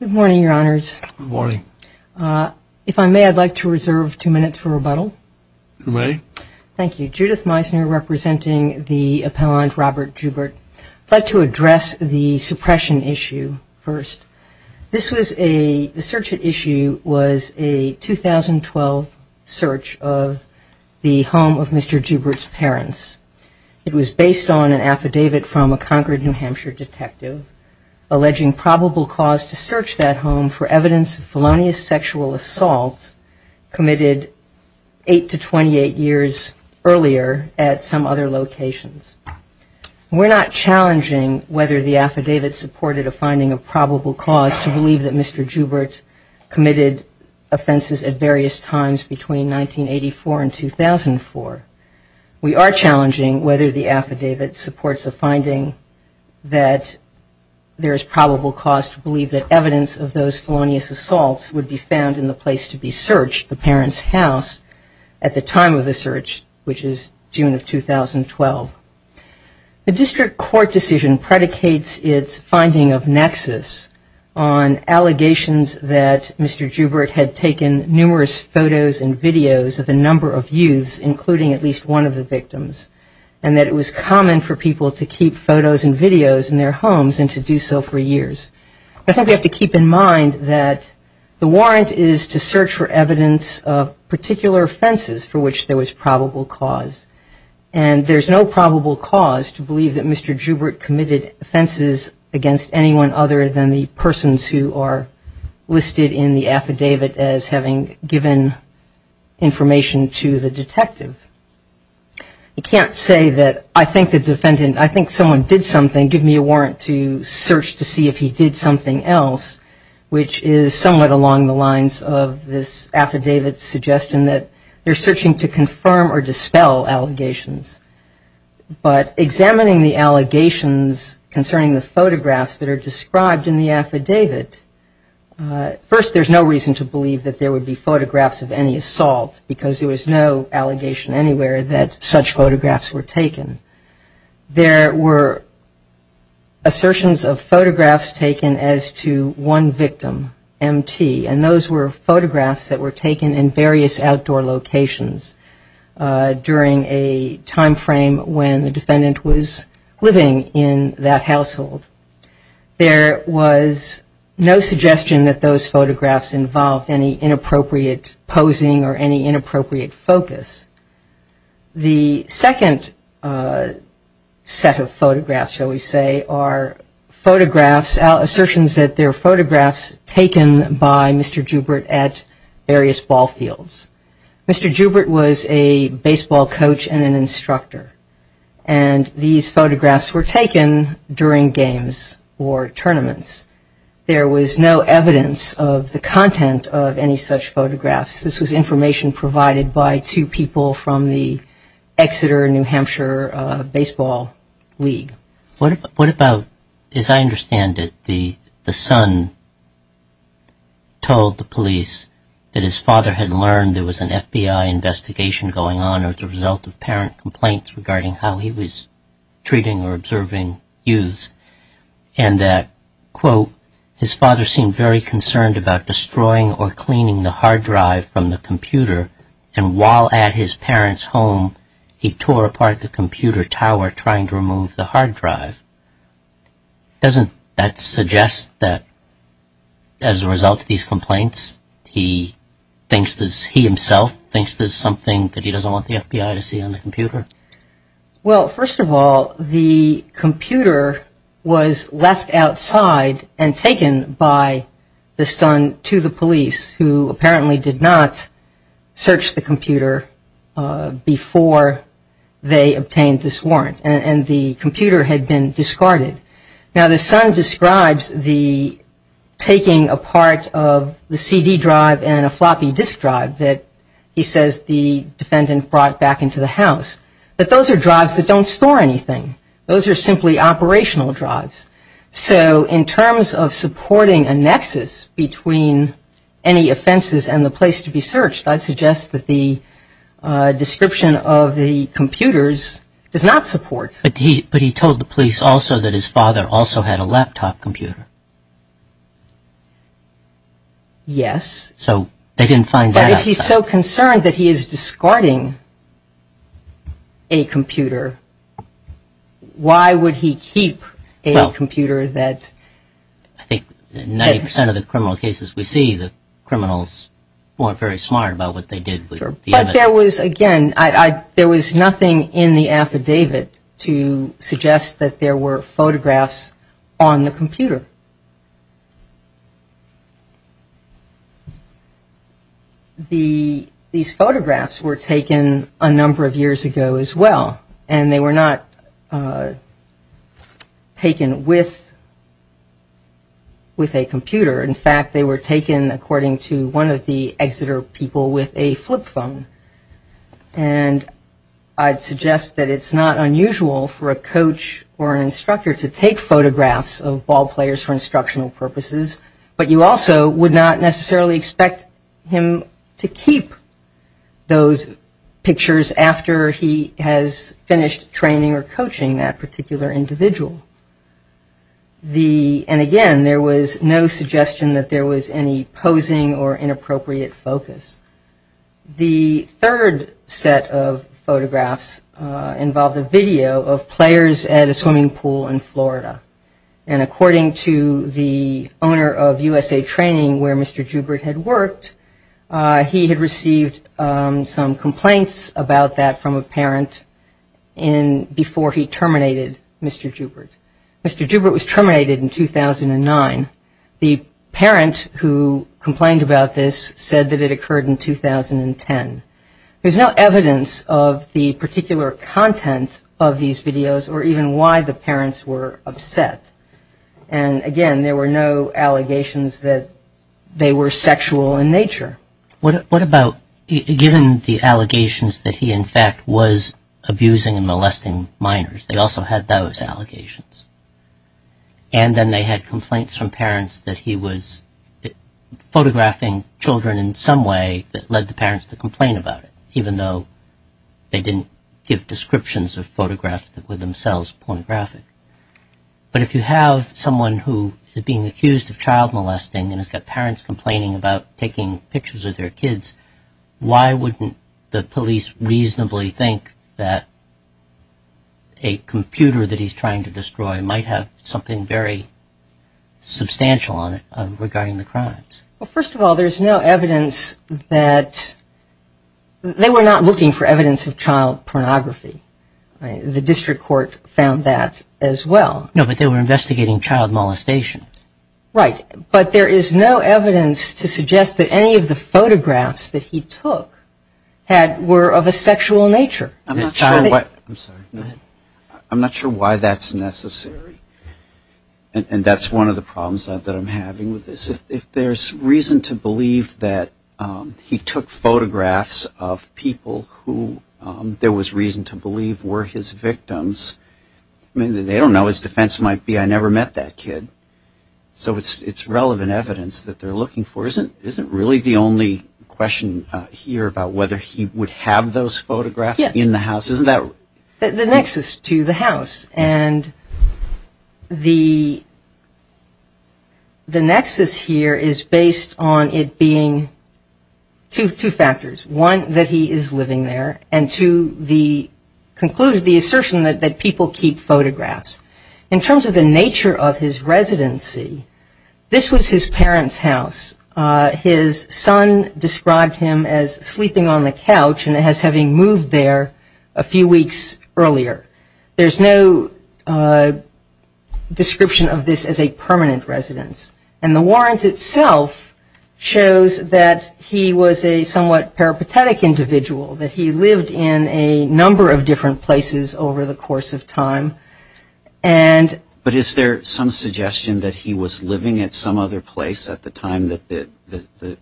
Good morning, Your Honors. If I may, I'd like to reserve two minutes for rebuttal. You may. Thank you. Judith Meisner, representing the appellant Robert Joubert. I'd like to address the suppression issue first. This was a – the search at issue was a 2012 search of the home of Mr. Joubert's parents. It was based on an affidavit from a Concord, New Hampshire, detective alleging probable cause to search that home for evidence of felonious sexual assault committed eight to twenty-eight years earlier at some other locations. We're not challenging whether the affidavit supported a finding of probable cause to believe that Mr. Joubert committed offenses at various times between 1984 and 2004. We are challenging whether the affidavit supports a finding that there is probable cause to believe that evidence of those felonious assaults would be found in the place to be searched, the parents' house, at the time of the search, which is June of 2012. The district court decision predicates its finding of nexus on allegations that Mr. Joubert had taken numerous photos and videos of a number of youths, including at least one of the victims, and that it was common for people to keep photos and videos in their homes and to do so for years. I think we have to keep in mind that the warrant is to search for evidence of particular offenses for which there was probable cause, and there's no probable cause to believe that Mr. Joubert committed offenses against anyone other than the persons who are listed in the affidavit as having given information to the detective. You can't say that I think the defendant, I think someone did something, give me a warrant to search to see if he did something else, which is somewhat along the lines of this affidavit's suggestion that they're searching to confirm or dispel allegations. But examining the allegations concerning the photographs that are described in the affidavit, first there's no reason to believe that there would be photographs of any assault, because there was no allegation anywhere that such photographs were taken. There were assertions of photographs taken as to one victim, M.T., and those were photographs that were taken in various outdoor locations during a time frame when the defendant was living in that household. There was no suggestion that those photographs involved any inappropriate posing or any inappropriate focus. The second set of photographs, shall we say, are photographs, assertions that they're photographs taken by Mr. Joubert at various ball fields. Mr. Joubert was a baseball coach and an instructor, and these photographs were taken during games or tournaments. There was no evidence of the content of any such photographs. This was information provided by two people from the Exeter-New Hampshire Baseball League. What about, as I understand it, the son told the police that his father had learned there was an FBI investigation going on as a result of parent complaints regarding how he was treating or observing youths, and that, quote, his father seemed very concerned about destroying or cleaning the hard drive from the computer, and while at his parents' home, he tore apart the computer tower trying to remove the hard drive. Doesn't that suggest that, as a result of these complaints, he thinks that he himself thinks there's something that he doesn't want the FBI to see on the computer? Well, first of all, the computer was left outside and taken by the son to the police, who apparently did not search the computer before they obtained this warrant, and the computer had been discarded. Now, the son describes the taking apart of the CD drive and a floppy disk drive that he says the defendant brought back into the house, but those are drives that don't store anything. Those are simply operational drives. So, in terms of supporting a nexus between any offenses and the place to be searched, I'd suggest that the description of the computers does not support. But he told the police also that his father also had a laptop computer. Yes. So, they didn't find that out. If he's so concerned that he is discarding a computer, why would he keep a computer that… Well, I think 90% of the criminal cases we see, the criminals weren't very smart about what they did with the evidence. Sure. But there was, again, there was nothing in the affidavit to suggest that there were photographs on the computer. These photographs were taken a number of years ago as well, and they were not taken with a computer. In fact, they were taken, according to one of the Exeter people, with a flip phone. And I'd suggest that it's not unusual for a coach or an instructor to take photographs of ballplayers for instructional purposes, but you also would not necessarily expect him to keep those pictures after he has finished training or coaching that particular individual. And again, there was no suggestion that there was any posing or inappropriate focus. The third set of photographs involved a video of players at a swimming pool in Florida. And according to the owner of USA Training, where Mr. Joubert had worked, he had received some complaints about that from a parent before he terminated Mr. Joubert. Mr. Joubert was terminated in 2009. The parent who complained about this said that it occurred in 2010. There's no evidence of the particular content of these videos or even why the parents were upset. And again, there were no allegations that they were sexual in nature. What about, given the allegations that he, in fact, was abusing and molesting minors? They also had those allegations. And then they had complaints from parents that he was photographing children in some way that led the parents to complain about it, even though they didn't give descriptions of photographs that were themselves pornographic. But if you have someone who is being accused of child molesting and has got parents complaining about taking pictures of their kids, why wouldn't the police reasonably think that a computer that he's trying to destroy might have something very substantial on it regarding the crimes? Well, first of all, there's no evidence that... They were not looking for evidence of child pornography. The district court found that as well. No, but they were investigating child molestation. Right. But there is no evidence to suggest that any of the photographs that he took were of a sexual nature. I'm not sure why that's necessary. And that's one of the problems that I'm having with this. If there's reason to believe that he took photographs of people who there was reason to believe were his victims, I mean, they don't know, his defense might be, I never met that kid. So it's relevant evidence that they're looking for. Isn't really the only question here about whether he would have those photographs in the house? Yes. Isn't that... The nexus to the house. And the nexus here is based on it being two factors. One, that he is living there. And two, the conclusion, the assertion that people keep photographs. In terms of the nature of his residency, this was his parents' house. His son described him as sleeping on the couch and as having moved there a few weeks earlier. There's no description of this as a permanent residence. And the warrant itself shows that he was a somewhat peripatetic individual, that he lived in a number of different places over the course of time. But is there some suggestion that he was living at some other place at the time that the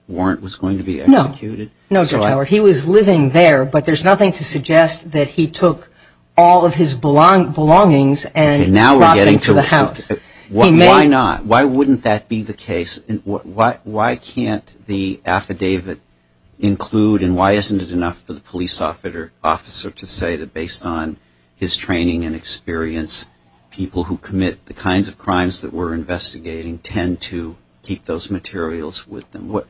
warrant was going to be executed? No. No, Sir. He was living there, but there's nothing to suggest that he took all of his belongings and brought them to the house. Why not? Why wouldn't that be the case? Why can't the affidavit include, and why isn't it enough for the police officer to say that based on his training and experience, people who commit the kinds of crimes that we're investigating tend to keep those materials with them?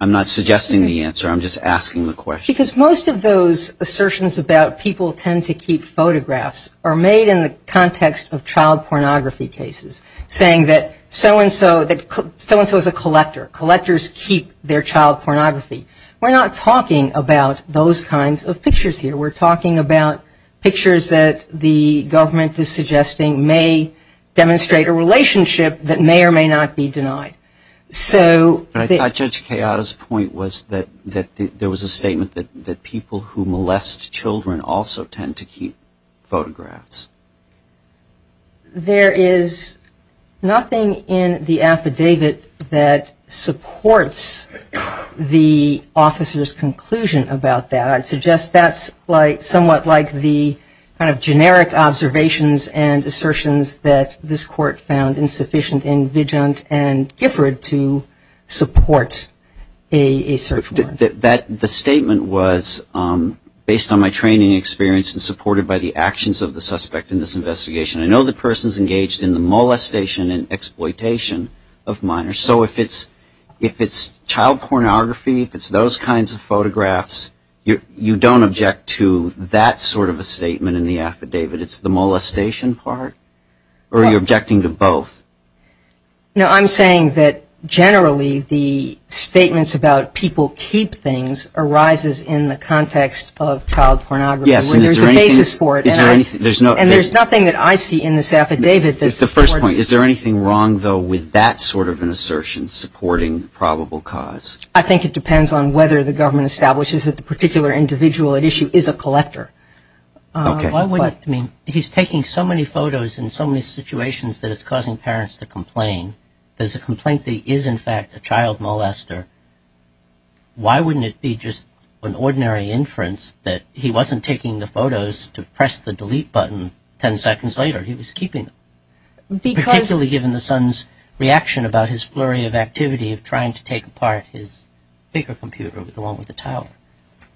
I'm not suggesting the answer, I'm just asking the question. Because most of those assertions about people tend to keep photographs are made in the context of child pornography cases, saying that so-and-so is a collector, collectors keep their child pornography. We're not talking about those kinds of pictures here. We're talking about pictures that the government is suggesting may demonstrate a relationship that may or may not be denied. But I thought Judge Kayada's point was that there was a statement that people who molest children also tend to keep photographs. There is nothing in the affidavit that supports the officer's conclusion about that. I'd suggest that's somewhat like the kind of generic observations and assertions that this court found insufficient in Vigent and Gifford to support a search warrant. The statement was, based on my training and experience and supported by the actions of the suspect in this investigation, I know the person's engaged in the molestation and exploitation of minors. So if it's child pornography, if it's those kinds of photographs, you don't object to that sort of a statement in the affidavit? It's the molestation part? Or are you objecting to both? No, I'm saying that generally the statements about people keep things arises in the context of child pornography, where there's a basis for it. And there's nothing that I see in this affidavit that supports... The first point, is there anything wrong, though, with that sort of an assertion supporting probable cause? I think it depends on whether the government establishes that the particular individual at issue is a collector. He's taking so many photos in so many situations that it's causing parents to complain. There's a complaint that he is, in fact, a child molester. Why wouldn't it be just an ordinary inference that he wasn't taking the photos to press the delete button ten seconds later? He was keeping them. Because... Particularly given the son's reaction about his flurry of activity of trying to take apart his bigger computer, the one with the towel.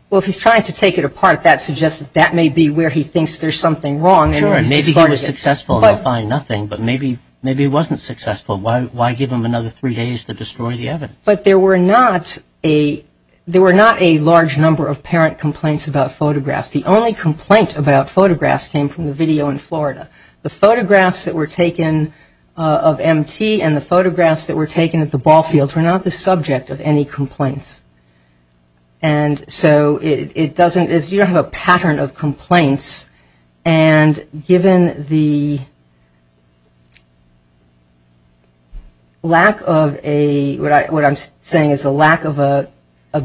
Well, if he's trying to take it apart, that suggests that that may be where he thinks there's something wrong. Sure, and maybe he was successful and he'll find nothing, but maybe he wasn't successful. Why give him another three days to destroy the evidence? But there were not a large number of parent complaints about photographs. The only complaint about photographs came from the video in Florida. The photographs that were taken of M.T. and the photographs that were taken at the ball And so, you don't have a pattern of complaints, and given the lack of a, what I'm saying is the lack of a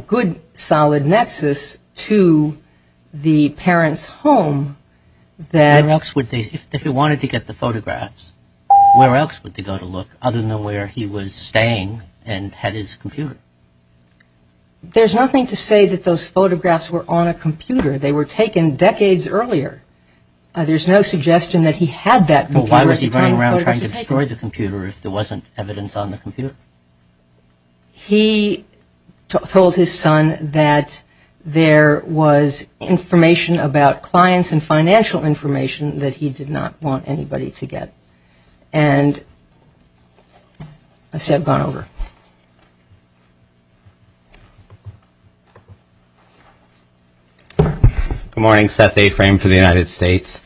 good, solid nexus to the parent's home, that... Where else would they... If he wanted to get the photographs, where else would they go to look other than where he was staying and had his computer? There's nothing to say that those photographs were on a computer. They were taken decades earlier. There's no suggestion that he had that computer at the time the photos were taken. But why was he running around trying to destroy the computer if there wasn't evidence on the computer? He told his son that there was information about clients and financial information that he did not want anybody to get. And... I see I've gone over. Good morning. Seth A. Frame for the United States.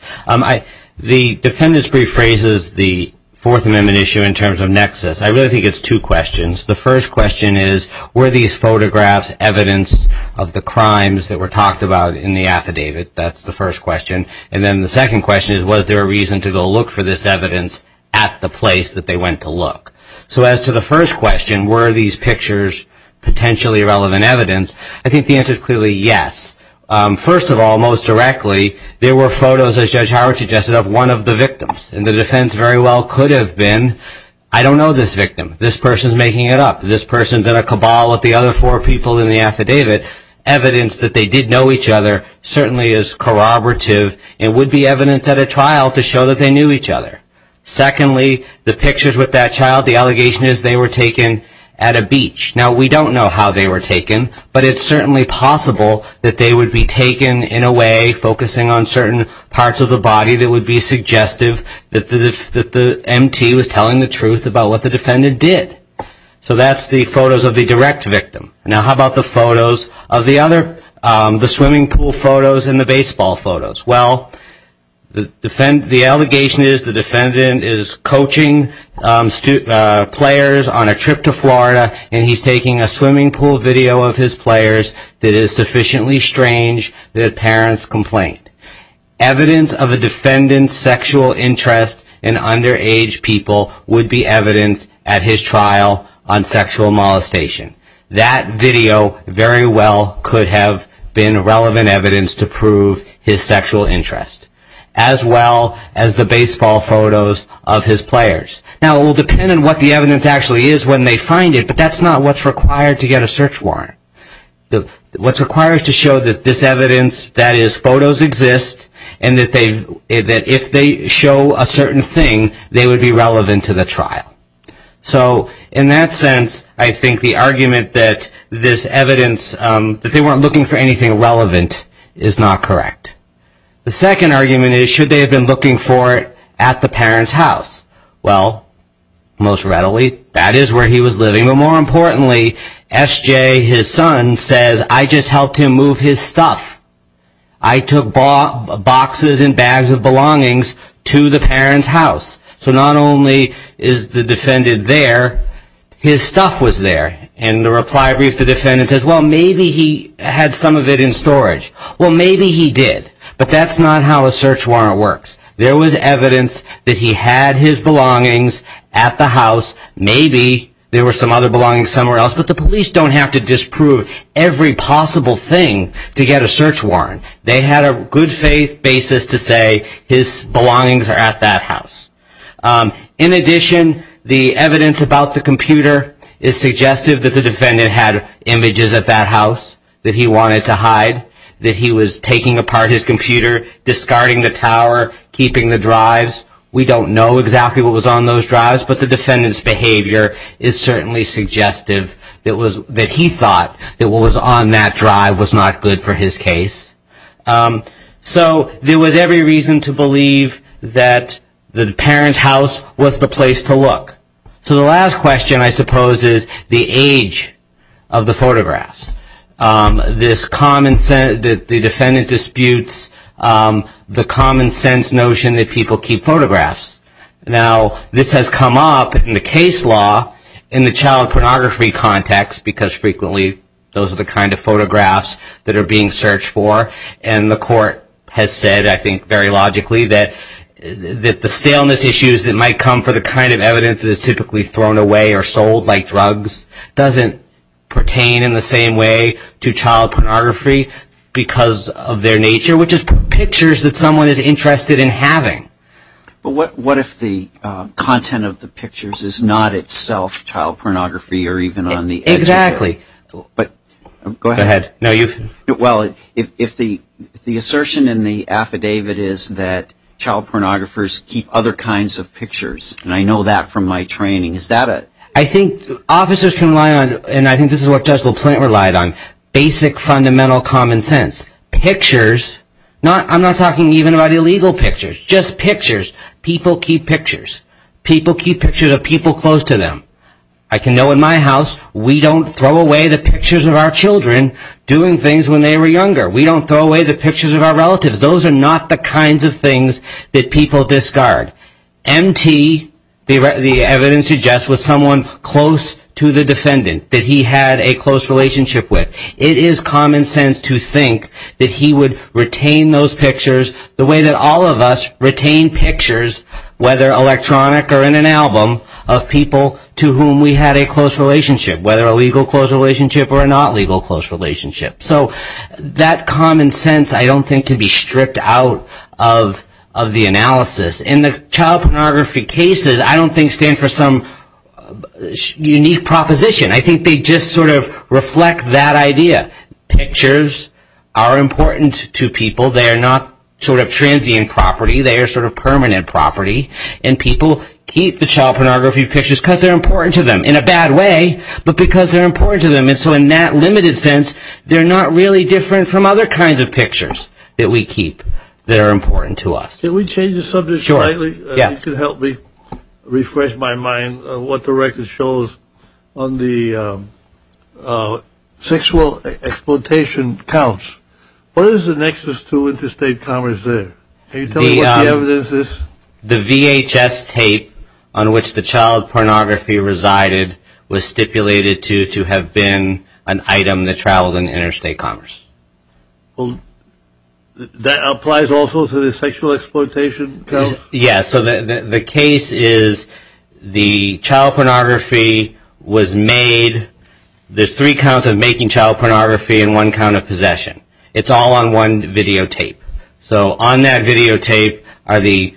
The defendant's brief raises the Fourth Amendment issue in terms of nexus. I really think it's two questions. The first question is, were these photographs evidence of the crimes that were talked about in the affidavit? That's the first question. And then the second question is, was there a reason to go look for this evidence at the place that they went to look? So as to the first question, were these pictures potentially relevant evidence, I think the answer is clearly yes. First of all, most directly, there were photos, as Judge Howard suggested, of one of the victims. And the defense very well could have been, I don't know this victim. This person's making it up. This person's in a cabal with the other four people in the affidavit. Evidence that they did know each other certainly is corroborative and would be evidence at a trial to show that they knew each other. Secondly, the pictures with that child, the allegation is they were taken at a beach. Now we don't know how they were taken. But it's certainly possible that they would be taken in a way focusing on certain parts of the body that would be suggestive that the M.T. was telling the truth about what the defendant did. So that's the photos of the direct victim. Now how about the photos of the other, the swimming pool photos and the baseball photos? Well, the allegation is the defendant is coaching players on a trip to Florida and he's taking a swimming pool video of his players that is sufficiently strange that parents complain. Evidence of a defendant's sexual interest in underage people would be evidence at his trial on sexual molestation. That video very well could have been relevant evidence to prove his sexual interest as well as the baseball photos of his players. Now it will depend on what the evidence actually is when they find it, but that's not what's required to get a search warrant. What's required is to show that this evidence, that is photos exist and that if they show it, they're not looking for anything relevant. So in that sense, I think the argument that this evidence, that they weren't looking for anything relevant is not correct. The second argument is should they have been looking for it at the parent's house? Well, most readily that is where he was living, but more importantly SJ, his son, says I just helped him move his stuff. I took boxes and bags of belongings to the parent's house. So not only is the defendant there, his stuff was there. And the reply brief to the defendant says, well, maybe he had some of it in storage. Well, maybe he did, but that's not how a search warrant works. There was evidence that he had his belongings at the house. Maybe there were some other belongings somewhere else, but the police don't have to disprove every possible thing to get a search warrant. They had a good faith basis to say his belongings are at that house. In addition, the evidence about the computer is suggestive that the defendant had images at that house that he wanted to hide, that he was taking apart his computer, discarding the tower, keeping the drives. We don't know exactly what was on those drives, but the defendant's behavior is certainly suggestive that he thought that what was on that drive was not good for his case. So there was every reason to believe that the parent's house was the place to look. So the last question, I suppose, is the age of the photographs, the defendant disputes the common sense notion that people keep photographs. Now, this has come up in the case law in the child pornography context, because frequently those are the kind of photographs that are being searched for. And the court has said, I think very logically, that the staleness issues that might come for the kind of evidence that is typically thrown away or sold like drugs doesn't pertain in the same way to child pornography because of their nature, which is pictures that someone is interested in having. But what if the content of the pictures is not itself child pornography or even on the... Exactly. But go ahead. No, you've... Well, if the assertion in the affidavit is that child pornographers keep other kinds of pictures, and I know that from my training, is that a... I think officers can rely on, and I think this is what Judge LaPlante relied on, basic fundamental common sense. Pictures, I'm not talking even about illegal pictures. Just pictures, people keep pictures. People keep pictures of people close to them. I can know in my house, we don't throw away the pictures of our children doing things when they were younger. We don't throw away the pictures of our relatives. Those are not the kinds of things that people discard. MT, the evidence suggests, was someone close to the defendant that he had a close relationship with. It is common sense to think that he would retain those pictures the way that all of us retain pictures, whether electronic or in an album, of people to whom we had a close relationship, whether a legal close relationship or a not legal close relationship. So that common sense, I don't think, can be stripped out of the analysis. In the child pornography cases, I don't think stand for some unique proposition. I think they just sort of reflect that idea. Pictures are important to people. They are not sort of transient property. They are sort of permanent property. And people keep the child pornography pictures because they're important to them in a bad way, but because they're important to them. And so in that limited sense, they're not really different from other kinds of pictures that we keep that are important to us. Can we change the subject slightly? Sure. Yeah. If you could help me refresh my mind on what the record shows on the sexual exploitation counts. What is the nexus to interstate commerce there? Can you tell me what the evidence is? The VHS tape on which the child pornography resided was stipulated to have been an item that traveled in interstate commerce. That applies also to the sexual exploitation counts? Yeah. So the case is the child pornography was made, there's three counts of making child pornography and one count of possession. It's all on one videotape. So on that videotape are the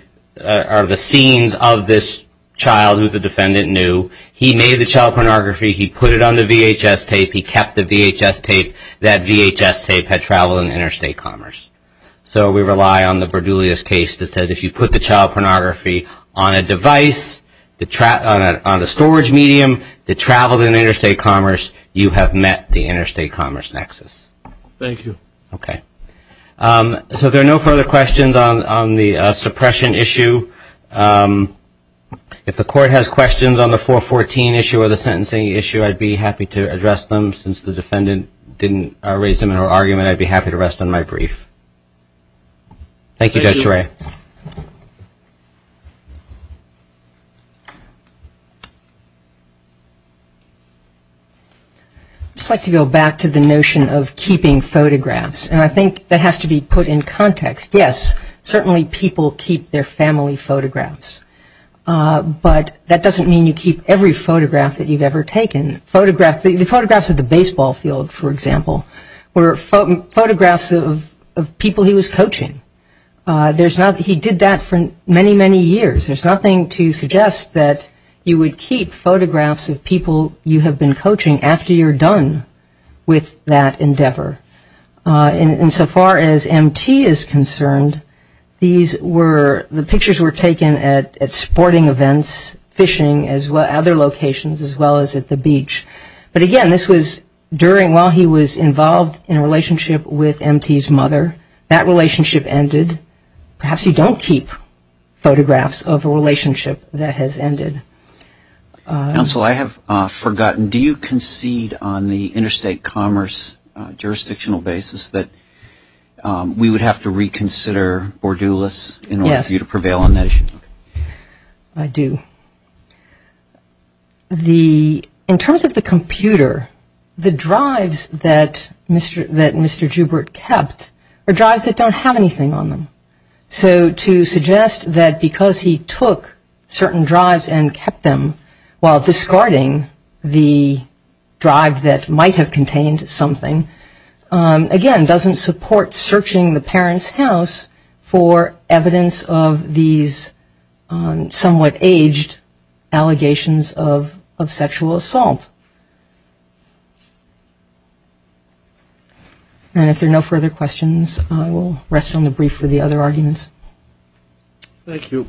scenes of this child who the defendant knew. He made the child pornography, he put it on the VHS tape, he kept the VHS tape. That VHS tape had traveled in interstate commerce. So we rely on the Berdulias case that said if you put the child pornography on a device, on a storage medium that traveled in interstate commerce, you have met the interstate commerce nexus. Thank you. Okay. So there are no further questions on the suppression issue. If the court has questions on the 414 issue or the sentencing issue, I'd be happy to address them. Since the defendant didn't raise them in her argument, I'd be happy to rest on my brief. Thank you, Judge Turek. I'd just like to go back to the notion of keeping photographs, and I think that has to be put in context. Yes, certainly people keep their family photographs, but that doesn't mean you keep every photograph that you've ever taken. The photographs of the baseball field, for example, were photographs of people he was coaching. He did that for many, many years. There's nothing to suggest that you would keep photographs of people you have been coaching after you're done with that endeavor. And so far as M.T. is concerned, the pictures were taken at sporting events, fishing, other locations as well as at the beach. But again, this was during while he was involved in a relationship with M.T.'s mother. That relationship ended. Perhaps you don't keep photographs of a relationship that has ended. Counsel, I have forgotten, do you concede on the interstate commerce jurisdictional basis that we would have to reconsider Bordoulas in order for you to prevail on that issue? I do. In terms of the computer, the drives that Mr. Jubert kept are drives that don't have anything on them. So to suggest that because he took certain drives and kept them while discarding the drive that might have contained something, again, doesn't support searching the parent's for evidence of these somewhat aged allegations of sexual assault. And if there are no further questions, I will rest on the brief for the other arguments. Thank you.